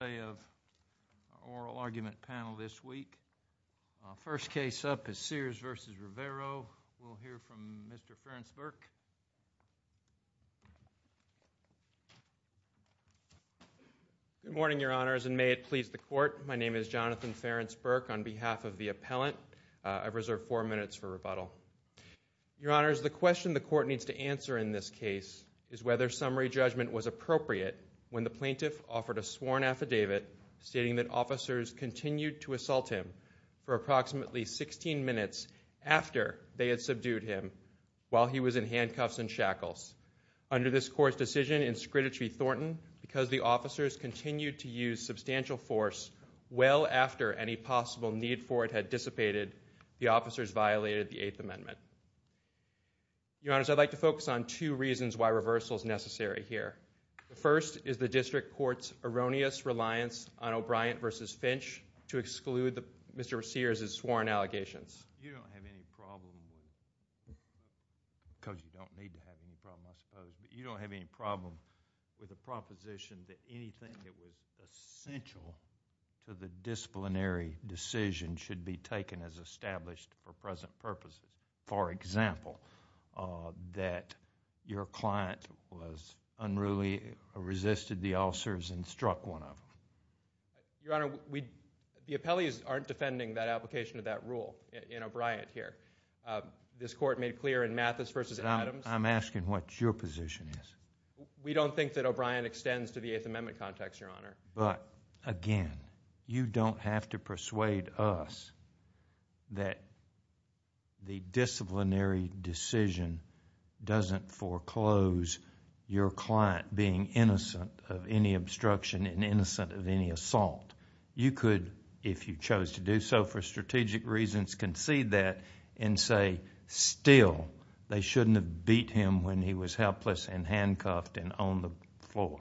on behalf of the appellant. I reserve four minutes for rebuttal. Your Honors, the question the court needs to answer in this case is whether summary judgment was appropriate when the plaintiff offered a sworn affidavit stating that officers continued to assault him for approximately 16 minutes after they had subdued him while he was in handcuffs and shackles. Under this court's decision in Scritter v. Thornton, because the officers continued to use substantial force well after any possible need for it had dissipated, the officers violated the Eighth Amendment. Your Honors, I'd like to focus on two reasons why reversal is necessary here. The first is the district court's erroneous reliance on O'Brien v. Finch to exclude Mr. Sears' sworn allegations. You don't have any problem, because you don't need to have any problem, I suppose, but you don't have any problem with a proposition that anything that was essential to the disciplinary decision should be taken as established for present purposes. For example, that your client was unruly, resisted the officers, and struck one of them. Your Honor, the appellees aren't defending that application of that rule in O'Brien here. This court made clear in Mathis v. Adams I'm asking what your position is. We don't think that O'Brien extends to the Eighth Amendment context, Your Honor. Again, you don't have to persuade us that the disciplinary decision doesn't foreclose your client being innocent of any obstruction and innocent of any assault. You could, if you chose to do so for strategic reasons, concede that and say, still, they shouldn't have beat him when he was helpless and handcuffed and on the floor.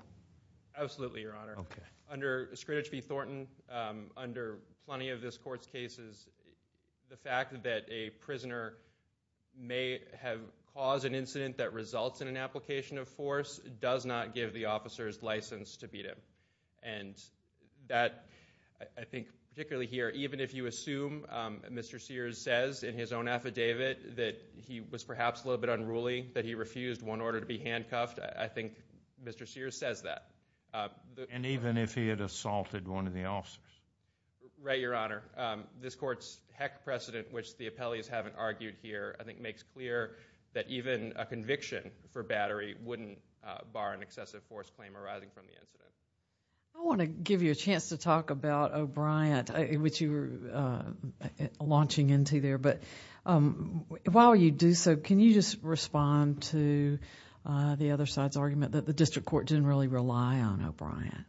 Absolutely, Your Honor. Under Scritter v. Thornton, under plenty of this court's cases, the fact that a prisoner may have caused an incident that results in an application of force does not give the officers license to beat him. And that, I think, particularly here, even if you assume, Mr. Sears says in his own affidavit, that he was perhaps a little bit unruly, that he refused one order to be handcuffed, I think Mr. Sears says that. And even if he had assaulted one of the officers? Right, Your Honor. This court's heck precedent, which the appellees haven't argued here, I think makes clear that even a conviction for battery wouldn't bar an excessive force claim arising from the incident. I want to give you a chance to talk about O'Brien, which you were launching into there, but while you do so, can you just respond to the other side's argument that the district court didn't really rely on O'Brien?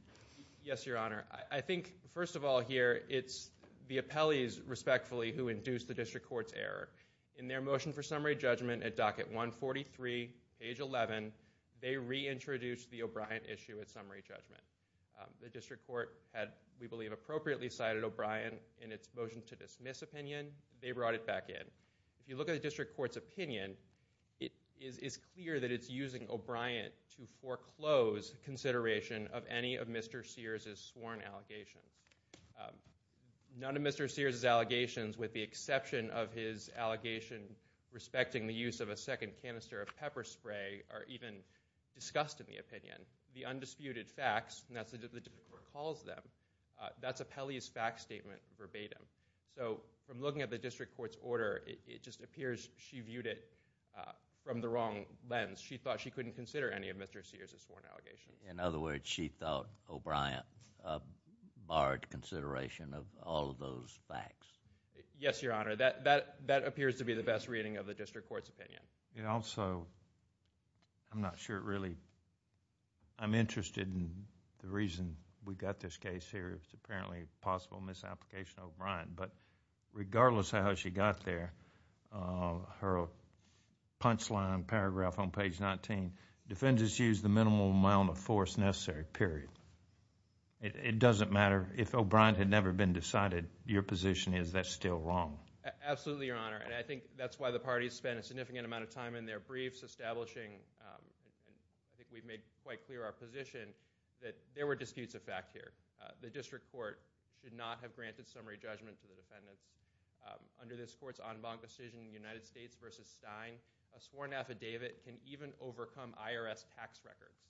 Yes, Your Honor. I think, first of all here, it's the appellees, respectfully, who induced the district court's error. In their motion for summary judgment at docket 143, page 11, they reintroduced the O'Brien issue at summary judgment. The district court had, we believe, appropriately cited O'Brien in its motion to dismiss opinion. They brought it back in. If you look at the district court's opinion, it is clear that it's using O'Brien to foreclose consideration of any of Mr. Sears' sworn allegations. None of Mr. Sears' allegations, with the exception of his allegation respecting the use of a second canister of pepper spray, are even discussed in the opinion. The undisputed facts, and that's what the district court calls them, that's appellee's fact statement verbatim. From looking at the district court's order, it just appears she viewed it from the wrong lens. She thought she couldn't consider any of Mr. Sears' sworn allegations. In other words, she thought O'Brien barred consideration of all of those facts. Yes, Your Honor. That appears to be the best reading of the district court's opinion. It also... I'm not sure it really... I'm interested in the reason we've got this case here. It's apparently a possible misapplication of O'Brien, but regardless of how she got there, her punchline paragraph on page 19, defendants use the minimal amount of force necessary, period. It doesn't matter. If O'Brien had never been decided, your position is that's still wrong. Absolutely, Your Honor. I think that's why the parties spent a significant amount of time in their briefs establishing... I think we've made quite clear our position that there were disputes of fact here. The district court did not have granted summary judgment to the defendants. Under this court's en banc decision in the United States versus Stein, a sworn affidavit can even overcome IRS tax records.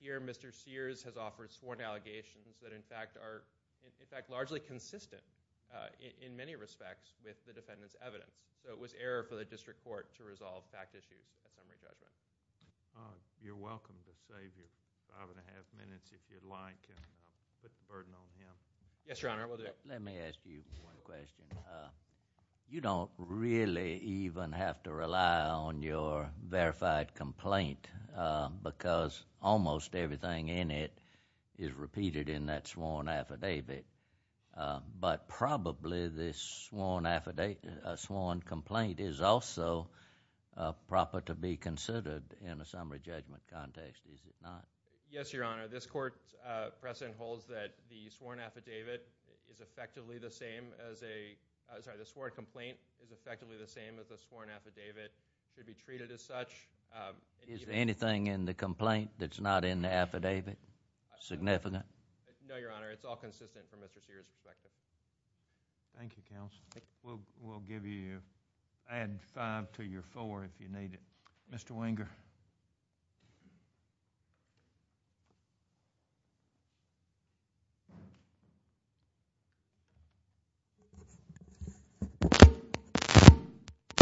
Here, Mr. Sears has offered sworn allegations that, in fact, are largely consistent in many respects with the defendant's evidence. It was error for the district court to resolve fact issues with summary judgment. You're welcome to save your five and a half minutes, if you'd like, and put the burden on him. Yes, Your Honor. Let me ask you one question. You don't really even have to rely on your verified complaint because almost everything in it is repeated in that sworn affidavit, but probably this sworn affidavit... sworn complaint is also proper to be considered in a summary judgment context, is it not? Yes, Your Honor. This court precedent holds that the sworn affidavit is effectively the same as a... sorry, the sworn complaint is effectively the same as the sworn affidavit to be treated as such. Is anything in the complaint that's not in the affidavit significant? No, Your Honor. It's all consistent from Mr. Sears' perspective. Thank you, counsel. We'll give you... add five to your four if you need it. Mr. Wenger.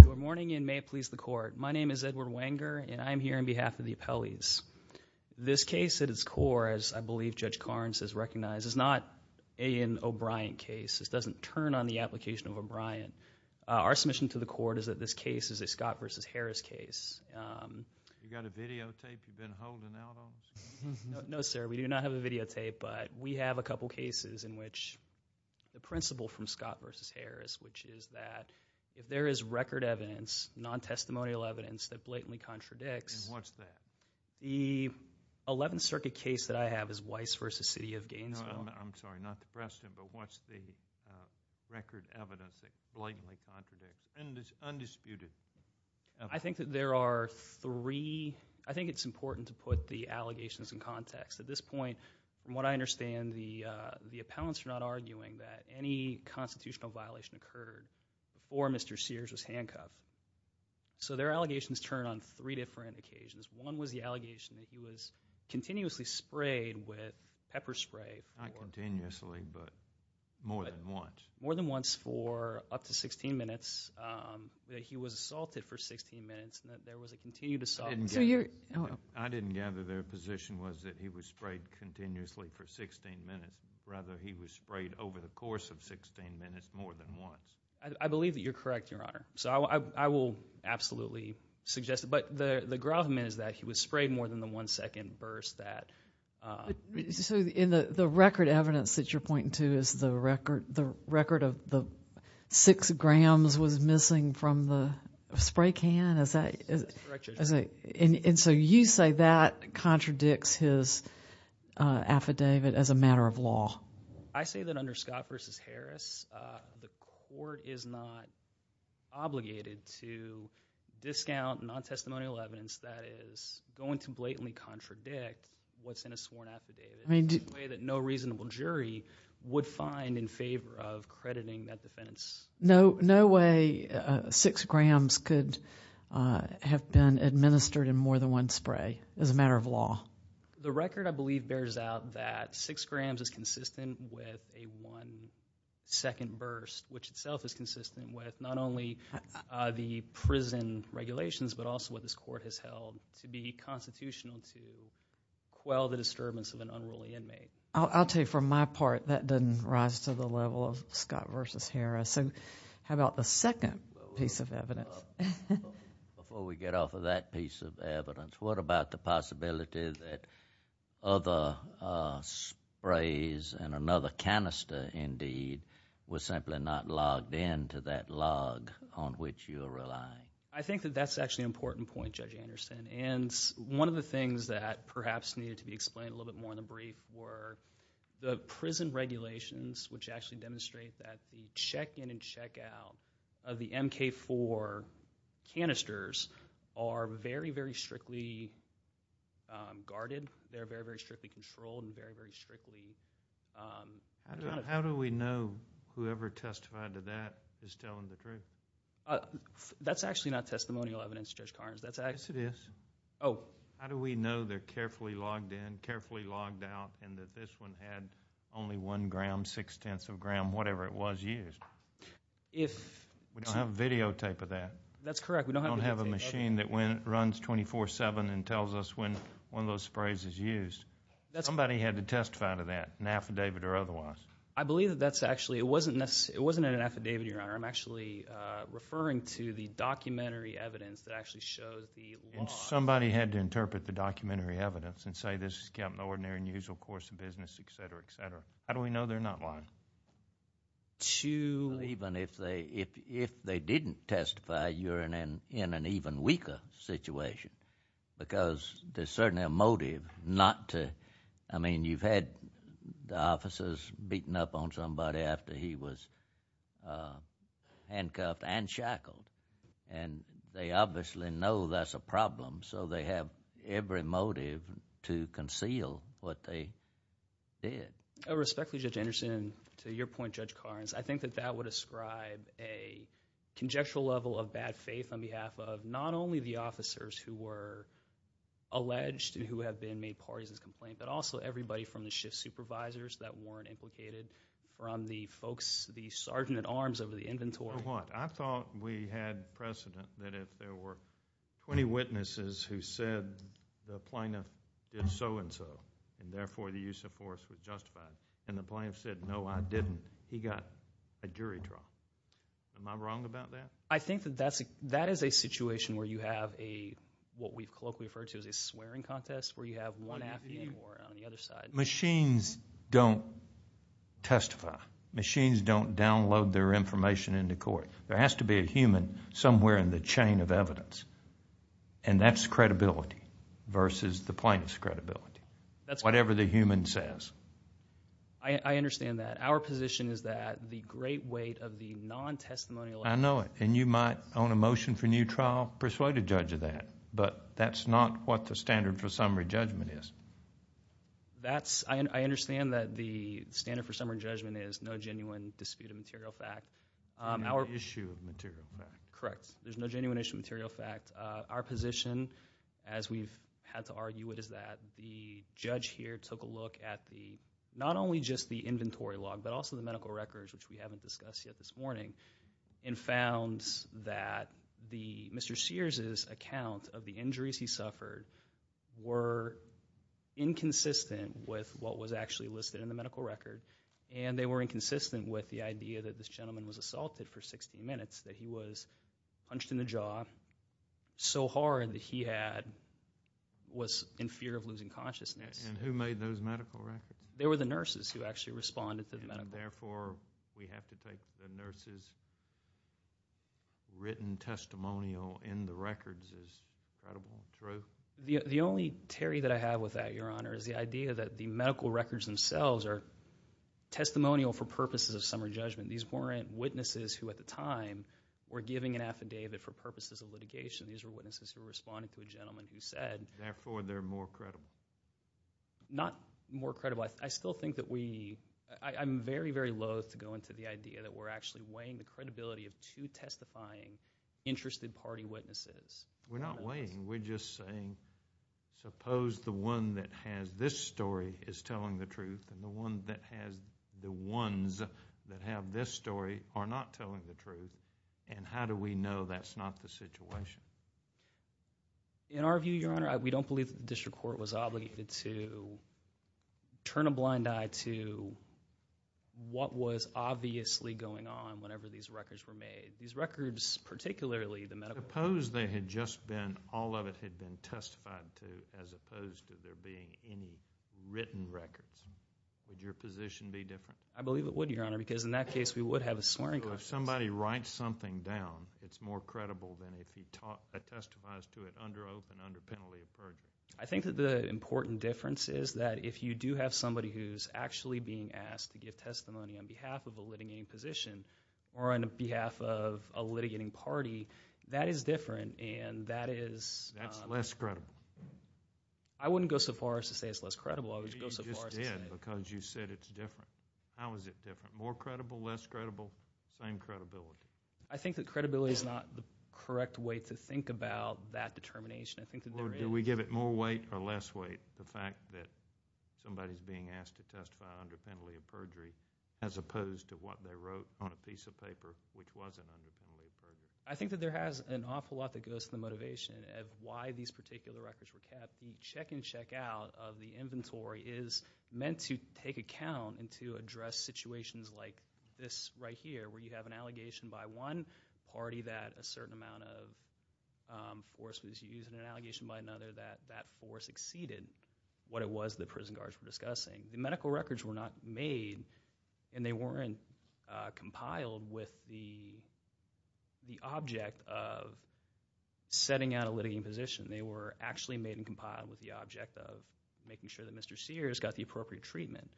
Good morning, and may it please the court. My name is Edward Wenger, and I'm here on behalf of the appellees. This case at its core, as I believe Judge Karnes has recognized, is not an O'Brien case. This doesn't turn on the application of O'Brien. Our submission to the court is that this case is a Scott v. Harris case. You got a videotape you've been holding out on us? No, sir. We do not have a videotape, but we have a couple cases in which the principle from Scott v. Harris, which is that if there is record evidence, non-testimonial evidence that blatantly contradicts... And what's that? The Eleventh Circuit case that I have is Weiss v. City of Gainesville. I'm sorry, not the precedent, but what's the record evidence that blatantly contradicts and is undisputed? I think that there are three... I think it's important to put the allegations in context. At this point, from what I understand, the appellants are not arguing that any constitutional violation occurred before Mr. Sears was handcuffed. So their allegations turn on three different occasions. One was the allegation that he was continuously sprayed with pepper spray... Not continuously, but more than once. More than once for up to 16 minutes, that he was assaulted for 16 minutes, and that there was a continued assault. I didn't gather their position was that he was sprayed continuously for 16 minutes. Rather, he was sprayed over the course of 16 minutes more than once. I believe that you're correct, Your Honor. So I will absolutely suggest it. But the gravamen is that he was sprayed more than the one second burst that... So the record evidence that you're pointing to is the record of the six grams was missing from the spray can? That's correct, Judge. And so you say that contradicts his affidavit as a matter of law? I say that under Scott v. Harris, the court is not obligated to discount non-testimonial evidence that is going to blatantly contradict what's in a sworn affidavit in a way that no reasonable jury would find in favor of crediting that defense. No way six grams could have been administered in more than one spray as a matter of law? The record, I believe, bears out that six grams is consistent with a one second burst, which itself is consistent with not only the prison regulations, but also what this court has held to be constitutional to quell the disturbance of an unruly inmate. I'll tell you from my part, that doesn't rise to the level of Scott v. Harris. So how about the second piece of evidence? Before we get off of that piece of evidence, what about the possibility that other sprays and another canister, indeed, were simply not logged in to that log on which you're relying? I think that that's actually an important point, Judge Anderson. And one of the things that perhaps needed to be explained a little bit more in the brief were the prison regulations, which actually demonstrate that the check-in and check-out of the MK-4 canisters are very, very strictly guarded. They're very, very strictly controlled and very, very strictly... How do we know whoever testified to that is telling the truth? That's actually not testimonial evidence, Judge Carnes. Yes, it is. Oh. How do we know they're carefully logged in, carefully logged out, and that this one had only one gram, six-tenths of a gram, whatever it was used? If... We don't have a videotape of that. That's correct. We don't have a videotape of it. We don't have a machine that runs 24-7 and tells us when one of those sprays is used. Somebody had to testify to that, an affidavit or otherwise. I believe that that's actually... It wasn't an affidavit, Your Honor. I'm actually referring to the documentary evidence that actually shows the log. And somebody had to interpret the documentary evidence and say, this is kept in the ordinary and usual course of business, et cetera, et cetera. How do we know they're not lying? To... Even if they didn't testify, you're in an even weaker situation because there's certainly a motive not to... I mean, you've had the officers beating up on somebody after he was handcuffed and shackled, and they obviously know that's a problem, so they have every motive to conceal what they did. Respectfully, Judge Anderson, to your point, Judge Carnes, I think that that would ascribe a conjectural level of bad faith on behalf of not only the officers who were alleged and who have been made parties in this complaint, but also everybody from the shift supervisors that weren't implicated, from the folks, the sergeant-at-arms over the inventory. I thought we had precedent that if there were 20 witnesses who said the plaintiff did so-and-so and, therefore, the use of force was justified, and the plaintiff said, no, I didn't, he got a jury trial. Am I wrong about that? I think that that is a situation where you have a... what we've colloquially referred to as a swearing contest where you have one acting on the other side. Machines don't testify. Machines don't download their information into court. There has to be a human somewhere in the chain of evidence, and that's credibility versus the plaintiff's credibility, whatever the human says. I understand that. Our position is that the great weight of the non-testimonial... I know it, and you might on a motion for new trial persuade a judge of that, but that's not what the standard for summary judgment is. I understand that the standard for summary judgment is no genuine dispute of material fact. No issue of material fact. Correct. There's no genuine issue of material fact. Our position, as we've had to argue it, is that the judge here took a look at the... not only just the inventory log, but also the medical records, which we haven't discussed yet this morning, and found that Mr. Sears' account of the injuries he suffered were inconsistent with what was actually listed in the medical record, and they were inconsistent with the idea that this gentleman was assaulted for 60 minutes, that he was punched in the jaw so hard that he was in fear of losing consciousness. And who made those medical records? They were the nurses who actually responded to the medical records. And therefore, we have to take the nurse's written testimonial in the records as credible proof? The only tarry that I have with that, Your Honor, is the idea that the medical records themselves are testimonial for purposes of summary judgment. These weren't witnesses who, at the time, were giving an affidavit for purposes of litigation. These were witnesses who were responding to a gentleman who said... Therefore, they're more credible? Not more credible. I still think that we... I'm very, very loathe to go into the idea that we're actually weighing the credibility of two testifying interested party witnesses. We're not weighing. We're just saying, suppose the one that has this story is telling the truth, and the ones that have this story are not telling the truth, and how do we know that's not the situation? In our view, Your Honor, we don't believe the district court was obligated to turn a blind eye to what was obviously going on whenever these records were made. These records, particularly the medical... Suppose they had just been... all of it had been testified to as opposed to there being any written records. Would your position be different? I believe it would, Your Honor, because in that case we would have a swearing contest. So if somebody writes something down, it's more credible than if he testifies to it under oath and under penalty of perjury. I think that the important difference is that if you do have somebody who's actually being asked to give testimony on behalf of a litigating position or on behalf of a litigating party, that is different, and that is... I wouldn't go so far as to say it's less credible. I would go so far as to say... Maybe you just did because you said it's different. How is it different? More credible, less credible, same credibility? I think that credibility is not the correct way to think about that determination. I think that there is... Do we give it more weight or less weight, the fact that somebody's being asked to testify under penalty of perjury as opposed to what they wrote on a piece of paper which wasn't under penalty of perjury? I think that there has an awful lot that goes to the motivation of why these particular records were kept. The check-in, check-out of the inventory is meant to take account and to address situations like this right here, where you have an allegation by one party that a certain amount of force was used, and an allegation by another that that force exceeded what it was the prison guards were discussing. The medical records were not made, and they weren't compiled with the object of setting out a litigating position. They were actually made and compiled with the object of making sure that Mr. Sears got the appropriate treatment,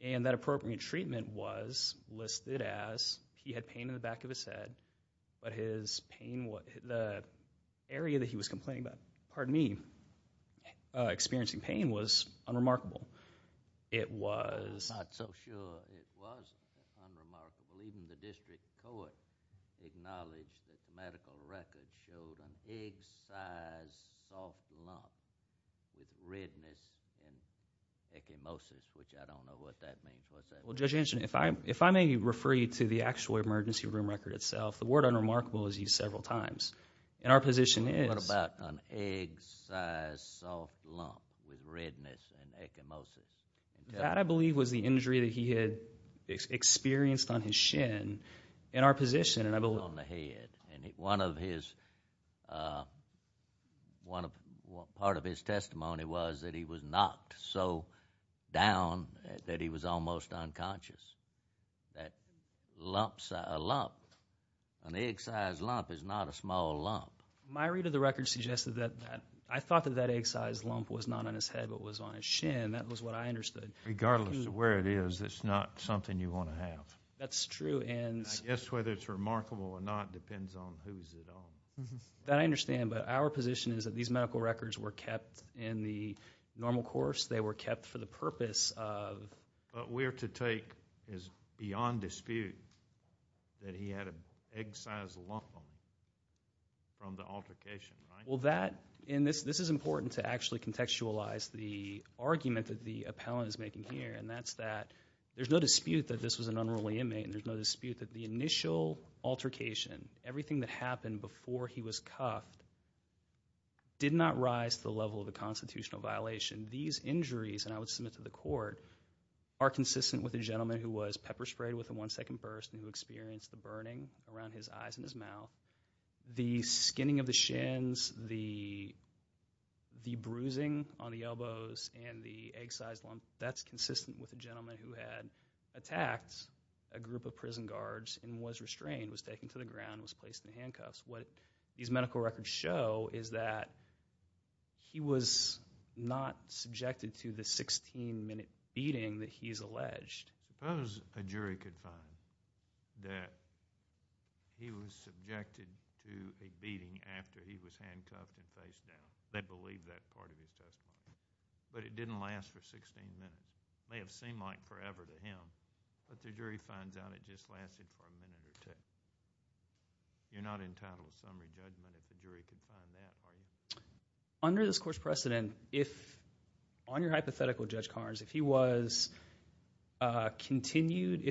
and that appropriate treatment was listed as he had pain in the back of his head, but the area that he was experiencing pain was unremarkable. I'm not so sure it was unremarkable. Even the district court acknowledged that medical records showed an egg-sized soft lump with redness and ecchymosis, which I don't know what that means. Well, Judge Hanson, if I may refer you to the actual emergency room record itself, the word unremarkable is used several times, and our position is... That, I believe, was the injury that he had experienced on his shin in our position, and I believe... On the head, and part of his testimony was that he was knocked so down that he was almost unconscious. That lump, an egg-sized lump, is not a small lump. My read of the record suggested that I thought that that egg-sized lump was not on his head but was on his shin. That was what I understood. Regardless of where it is, it's not something you want to have. That's true, and... I guess whether it's remarkable or not depends on whose it is. That I understand, but our position is that these medical records were kept in the normal course. They were kept for the purpose of... What we're to take is beyond dispute that he had an egg-sized lump from the altercation. Well, that... This is important to actually contextualize the argument that the appellant is making here, and that's that there's no dispute that this was an unruly inmate, and there's no dispute that the initial altercation, everything that happened before he was cuffed, did not rise to the level of a constitutional violation. These injuries, and I would submit to the court, are consistent with a gentleman who was pepper-sprayed with a one-second burst and who experienced the burning around his eyes and his mouth. The skinning of the shins, the bruising on the elbows, and the egg-sized lump, that's consistent with a gentleman who had attacked a group of prison guards and was restrained, was taken to the ground, was placed in handcuffs. What these medical records show is that he was not subjected to the 16-minute beating that he's alleged. Suppose a jury could find that he was subjected to a beating after he was handcuffed and face-down. They'd believe that part of the testimony. But it didn't last for 16 minutes. It may have seemed like forever to him, but the jury finds out it just lasted for a minute or two. You're not entitled to summary judgment if the jury could find that, are you? Under this court's precedent, if... If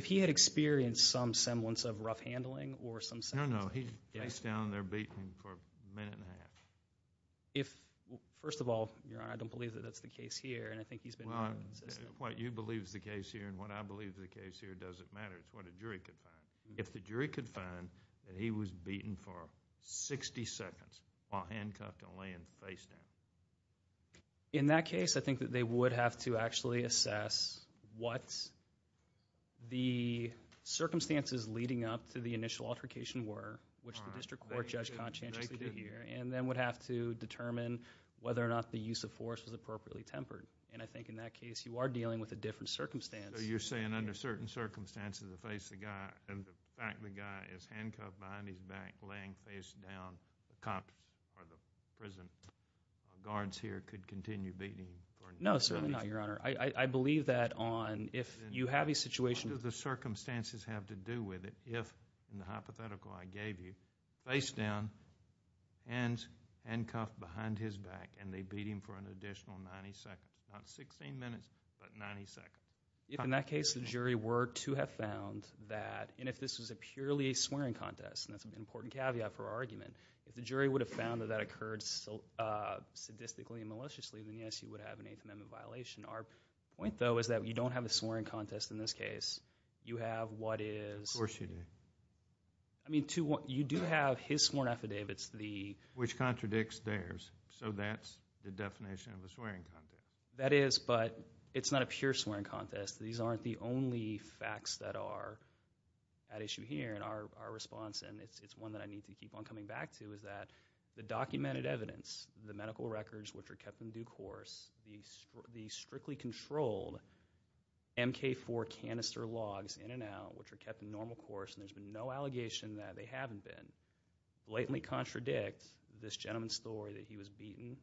he had experienced some semblance of rough handling or some semblance... No, no, he's down there beaten for a minute and a half. First of all, I don't believe that that's the case here, and I think he's been... What you believe is the case here and what I believe is the case here doesn't matter. It's what a jury could find. If the jury could find that he was beaten for 60 seconds while handcuffed and laying face-down. In that case, I think that they would have to actually assess what the circumstances leading up to the initial altercation were, which the district court judge conscientiously did here, and then would have to determine whether or not the use of force was appropriately tempered. And I think in that case, you are dealing with a different circumstance. So you're saying under certain circumstances, the fact the guy is handcuffed behind his back, laying face-down, the cop or the prison guards here could continue beating him? No, certainly not, Your Honor. I believe that on... if you have a situation... What do the circumstances have to do with it if, in the hypothetical I gave you, face-down, handcuffed behind his back, and they beat him for an additional 90 seconds? Not 16 minutes, but 90 seconds. If, in that case, the jury were to have found that, and if this was purely a swearing contest, and that's an important caveat for our argument, if the jury would have found that that occurred sadistically and maliciously, then, yes, you would have an Eighth Amendment violation. Our point, though, is that you don't have a swearing contest in this case. You have what is... Of course you do. I mean, you do have his sworn affidavits, the... That is, but it's not a pure swearing contest. These aren't the only facts that are at issue here in our response, and it's one that I need to keep on coming back to, is that the documented evidence, the medical records, which are kept in due course, the strictly controlled MK-4 canister logs, in and out, which are kept in normal course, and there's been no allegation that they haven't been, blatantly contradict this gentleman's story that he was beaten...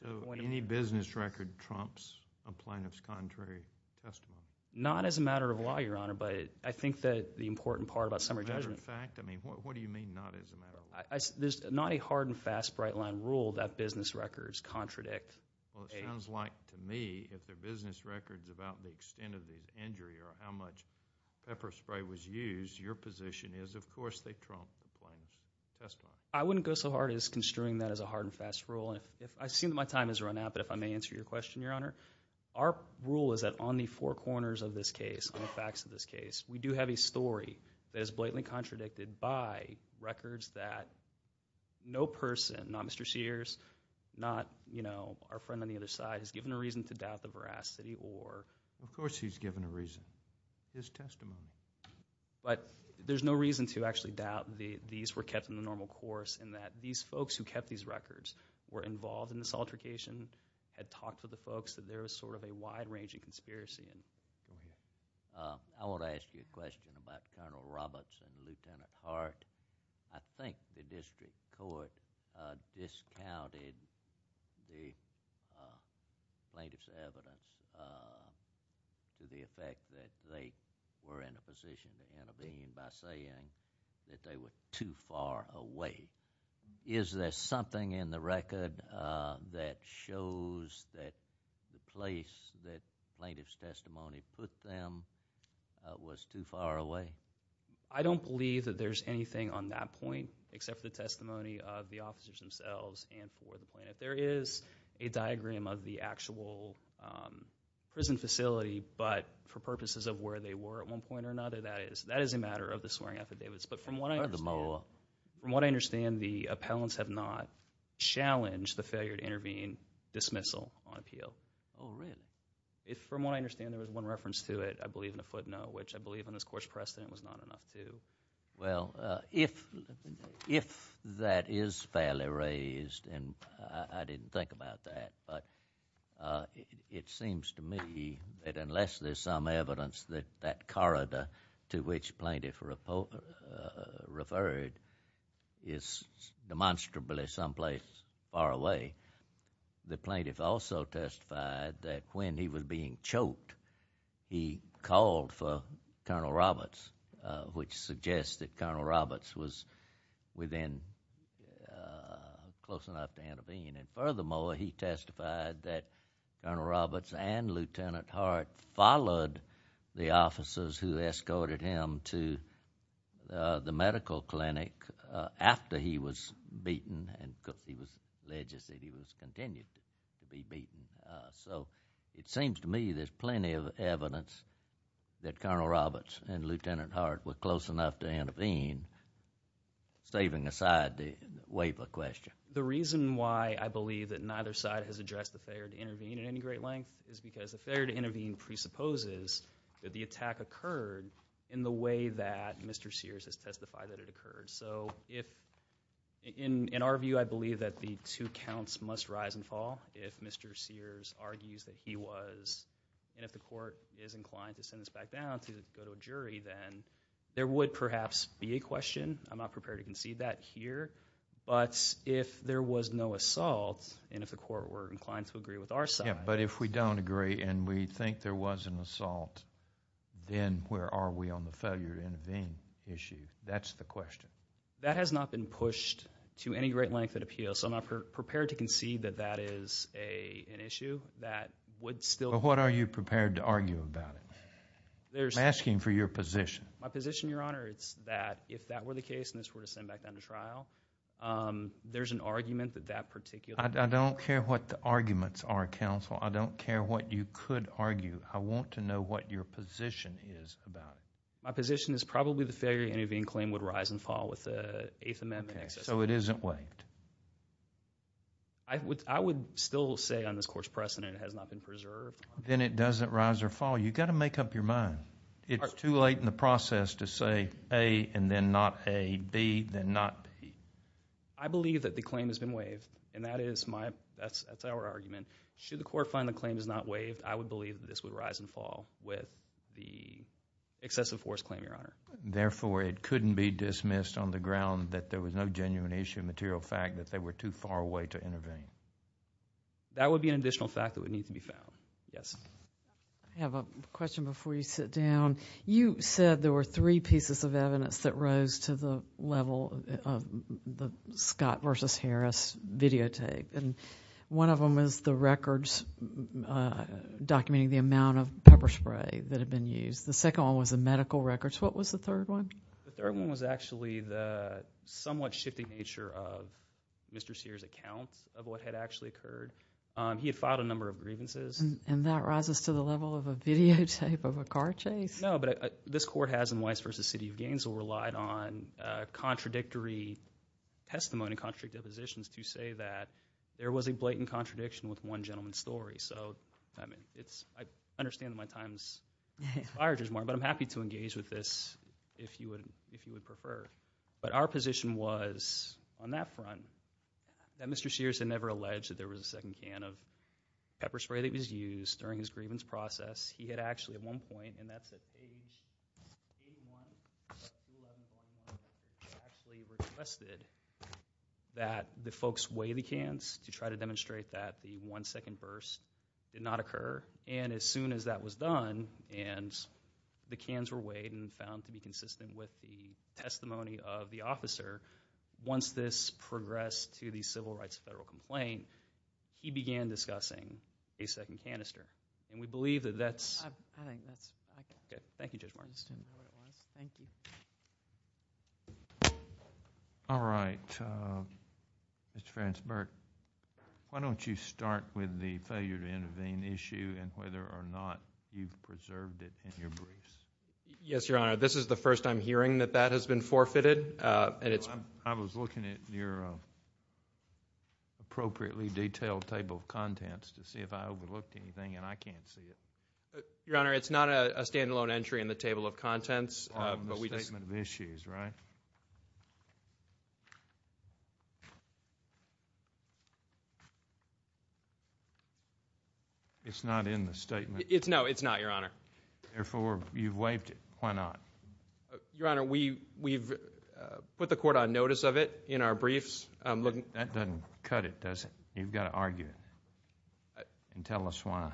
So any business record trumps a plaintiff's contrary testimony? Not as a matter of law, Your Honor, but I think that the important part about summary judgment... Matter of fact? I mean, what do you mean, not as a matter of law? There's not a hard-and-fast bright-line rule that business records contradict a... Well, it sounds like, to me, if their business record's about the extent of the injury or how much pepper spray was used, your position is, of course, they trump the plaintiff's testimony. I wouldn't go so hard as construing that as a hard-and-fast rule. I assume my time has run out, but if I may answer your question, Your Honor, our rule is that on the four corners of this case, on the facts of this case, we do have a story that is blatantly contradicted by records that no person, not Mr. Sears, not our friend on the other side, has given a reason to doubt the veracity or... Of course he's given a reason. His testimony. But there's no reason to actually doubt these were kept in the normal course and that these folks who kept these records were involved in this altercation, had talked to the folks, that there was sort of a wide-ranging conspiracy. I want to ask you a question about Colonel Roberts and Lieutenant Hart. I think the district court discounted the plaintiff's evidence to the effect that they were in a position to intervene by saying that they were too far away. Is there something in the record that shows that the place that plaintiff's testimony put them was too far away? I don't believe that there's anything on that point except for the testimony of the officers themselves and for the plaintiff. There is a diagram of the actual prison facility, but for purposes of where they were at one point or another, that is a matter of the swearing affidavits. But from what I understand... Furthermore... From what I understand, the appellants have not challenged the failure to intervene dismissal on appeal. All right. From what I understand, there was one reference to it, I believe, in a footnote, which I believe in this court's precedent was not enough to... Well, if that is fairly raised, and I didn't think about that, but it seems to me that unless there's some evidence that that corridor to which plaintiff referred is demonstrably someplace far away, the plaintiff also testified that when he was being choked, he called for Colonel Roberts, which suggests that Colonel Roberts was within... close enough to intervene. And furthermore, he testified that Colonel Roberts and Lieutenant Hart followed the officers who escorted him to the medical clinic after he was beaten, and he was alleged that he was continued to be beaten. So it seems to me there's plenty of evidence that Colonel Roberts and Lieutenant Hart were close enough to intervene, saving aside the waiver question. The reason why I believe that neither side has addressed the failure to intervene at any great length is because the failure to intervene presupposes that the attack occurred in the way that Mr. Sears has testified that it occurred. So in our view, I believe that the two counts must rise and fall if Mr. Sears argues that he was... And if the court is inclined to send this back down to go to a jury, then there would perhaps be a question. I'm not prepared to concede that here. But if there was no assault, and if the court were inclined to agree with our side... Yeah, but if we don't agree and we think there was an assault, then where are we on the failure to intervene issue? That's the question. That has not been pushed to any great length at appeal, so I'm not prepared to concede that that is an issue that would still... But what are you prepared to argue about it? I'm asking for your position. My position, Your Honor, is that if that were the case and this were to send back down to trial, there's an argument that that particular... I don't care what the arguments are, counsel. I don't care what you could argue. I want to know what your position is about it. My position is probably the failure to intervene claim would rise and fall with the Eighth Amendment. Okay, so it isn't waived. I would still say on this court's precedent it has not been preserved. Then it doesn't rise or fall. You've got to make up your mind. It's too late in the process to say A and then not A, B then not B. I believe that the claim has been waived, and that is my... that's our argument. Should the court find the claim is not waived, I would believe that this would rise and fall with the excessive force claim, Your Honor. Therefore, it couldn't be dismissed on the ground that there was no genuine issue in the material fact that they were too far away to intervene. That would be an additional fact that would need to be found. Yes? I have a question before you sit down. You said there were three pieces of evidence that rose to the level of the Scott v. Harris videotape. One of them was the records documenting the amount of pepper spray that had been used. The second one was the medical records. What was the third one? The third one was actually the somewhat shifting nature of Mr. Sears' account of what had actually occurred. He had filed a number of grievances. And that rises to the level of a videotape of a car chase? No, but this court has in Weiss v. City of Gainesville relied on contradictory testimony, contradictory depositions to say that there was a blatant contradiction with one gentleman's story. So, I mean, I understand that my time's expired, Judge Martin, but I'm happy to engage with this if you would prefer. But our position was, on that front, that Mr. Sears had never alleged that there was a second can of pepper spray that was used during his grievance process. He had actually, at one point, and that's at page 81, actually requested that the folks weigh the cans to try to demonstrate that the one second verse did not occur. And as soon as that was done and the cans were weighed Once this progressed to the Civil Rights Federal Complaint, he began discussing a second canister. And we believe that that's... I think that's... Okay, thank you, Judge Martin. Thank you. All right. Mr. Farris-Burke, why don't you start with the failure to intervene issue and whether or not you've preserved it in your briefs. Yes, Your Honor. This is the first I'm hearing that that has been forfeited. I was looking at your appropriately detailed table of contents to see if I overlooked anything, and I can't see it. Your Honor, it's not a standalone entry in the table of contents. On the statement of issues, right? It's not in the statement. No, it's not, Your Honor. Therefore, you've waived it. Why not? Your Honor, we've put the court on notice of it in our briefs. That doesn't cut it, does it? You've got to argue and tell us why.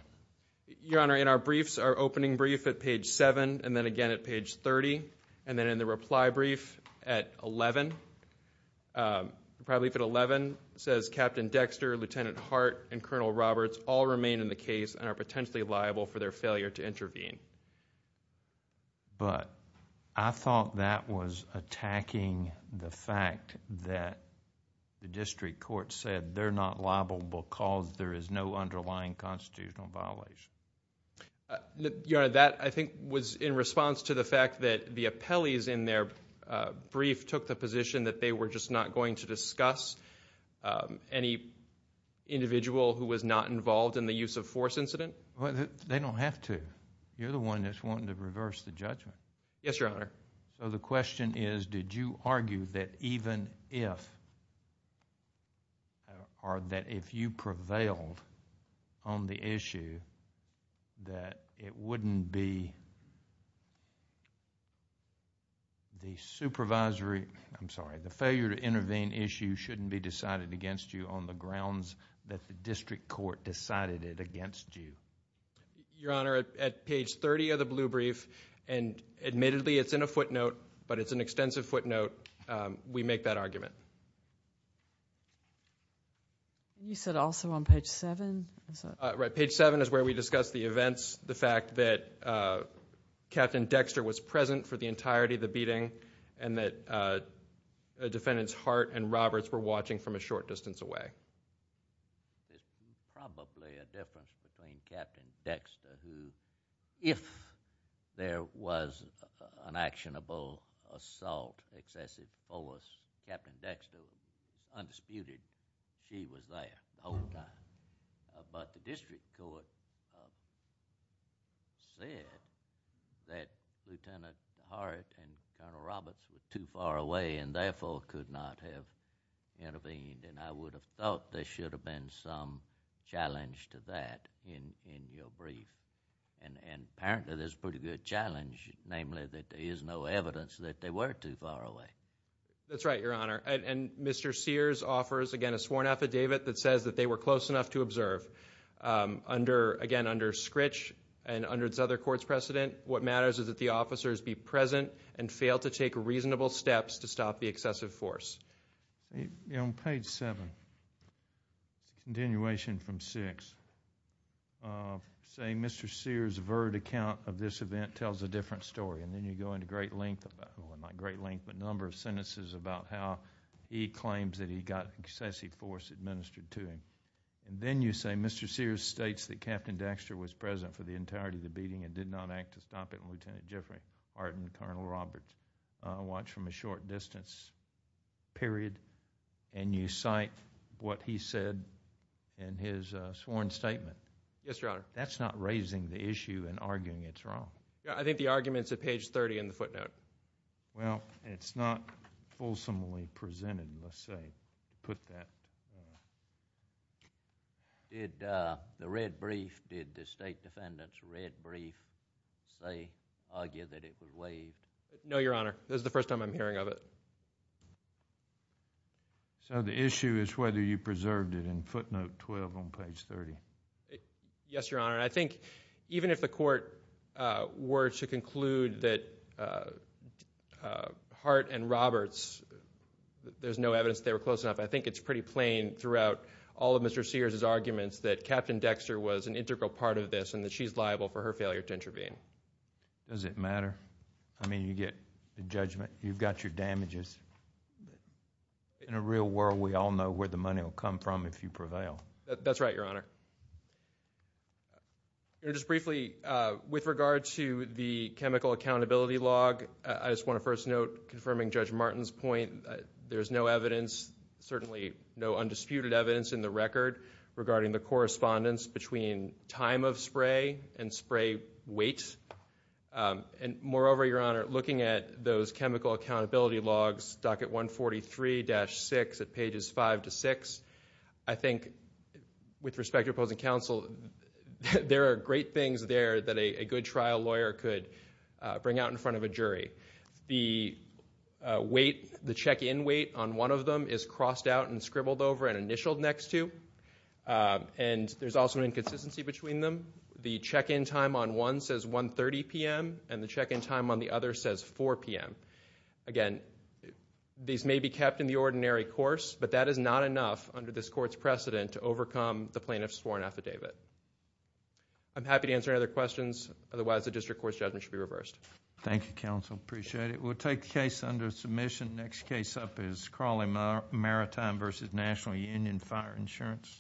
Your Honor, in our briefs, our opening brief at page 7, and then again at page 30, and then in the reply brief at 11, probably at 11, it says, Captain Dexter, Lieutenant Hart, and Colonel Roberts all remain in the case and are potentially liable for their failure to intervene. I thought that was attacking the fact that the district court said they're not liable because there is no underlying constitutional violation. Your Honor, that I think was in response to the fact that the appellees in their brief took the position that they were just not going to discuss any individual who was not involved in the use-of-force incident. They don't have to. You're the one that's wanting to reverse the judgment. Yes, Your Honor. The question is, did you argue that even if... or that if you prevailed on the issue, that it wouldn't be the supervisory... I'm sorry. The failure to intervene issue shouldn't be decided against you on the grounds that the district court decided it against you. Your Honor, at page 30 of the blue brief, and admittedly it's in a footnote, but it's an extensive footnote, we make that argument. You said also on page 7? Right. Page 7 is where we discuss the events, the fact that Captain Dexter was present for the entirety of the beating and that Defendants Hart and Roberts were watching from a short distance away. There's probably a difference between Captain Dexter who, if there was an actionable assault excessive towards Captain Dexter, undisputed, she was there the whole time. But the district court said that Lieutenant Hart and Colonel Roberts were too far away and therefore could not have intervened. I would have thought there should have been some challenge to that in your brief. Apparently, there's a pretty good challenge, namely, that there is no evidence that they were too far away. That's right, Your Honor. Mr. Sears offers, again, a sworn affidavit that says that they were close enough to observe. Again, under Scritch and under this other court's precedent, what matters is that the officers be present and fail to take reasonable steps to stop the excessive force. On page 7, continuation from 6, say Mr. Sears' verd account of this event tells a different story and then you go into great length, well, not great length, but a number of sentences about how he claims that he got excessive force administered to him. Then you say Mr. Sears states that Captain Dexter was present for the entirety of the beating and did not act to stop it when Lieutenant Jeffrey Hart and Colonel Roberts watched from a short distance, period, and you cite what he said in his sworn statement. Yes, Your Honor. That's not raising the issue and arguing it's wrong. I think the argument's at page 30 in the footnote. Well, it's not fulsomely presented, let's say, to put that. Did the red brief, did the State Defendant's red brief say, argue that it was waived? No, Your Honor. This is the first time I'm hearing of it. So the issue is whether you preserved it in footnote 12 on page 30. Yes, Your Honor. I think even if the court were to conclude that Hart and Roberts, there's no evidence they were close enough, I think it's pretty plain throughout all of Mr. Sears' arguments that Captain Dexter was an integral part of this and that she's liable for her failure to intervene. Does it matter? I mean, you get the judgment. You've got your damages. In a real world, we all know where the money will come from if you prevail. That's right, Your Honor. Just briefly, with regard to the chemical accountability log, I just want to first note, confirming Judge Martin's point, there's no evidence, certainly no undisputed evidence in the record, regarding the correspondence between time of spray and spray weight. Moreover, Your Honor, looking at those chemical accountability logs, docket 143-6 at pages 5 to 6, I think, with respect to opposing counsel, there are great things there that a good trial lawyer could bring out in front of a jury. The weight, the check-in weight on one of them is crossed out and scribbled over and initialed next to, and there's also an inconsistency between them. The check-in time on one says 1.30 p.m., and the check-in time on the other says 4 p.m. Again, these may be kept in the ordinary course, but that is not enough under this court's precedent to overcome the plaintiff's sworn affidavit. I'm happy to answer any other questions. Otherwise, the district court's judgment should be reversed. Thank you, counsel. Appreciate it. We'll take the case under submission. Next case up is Crawley Maritime v. National Union Fire Insurance. Please stand by. Please stand by.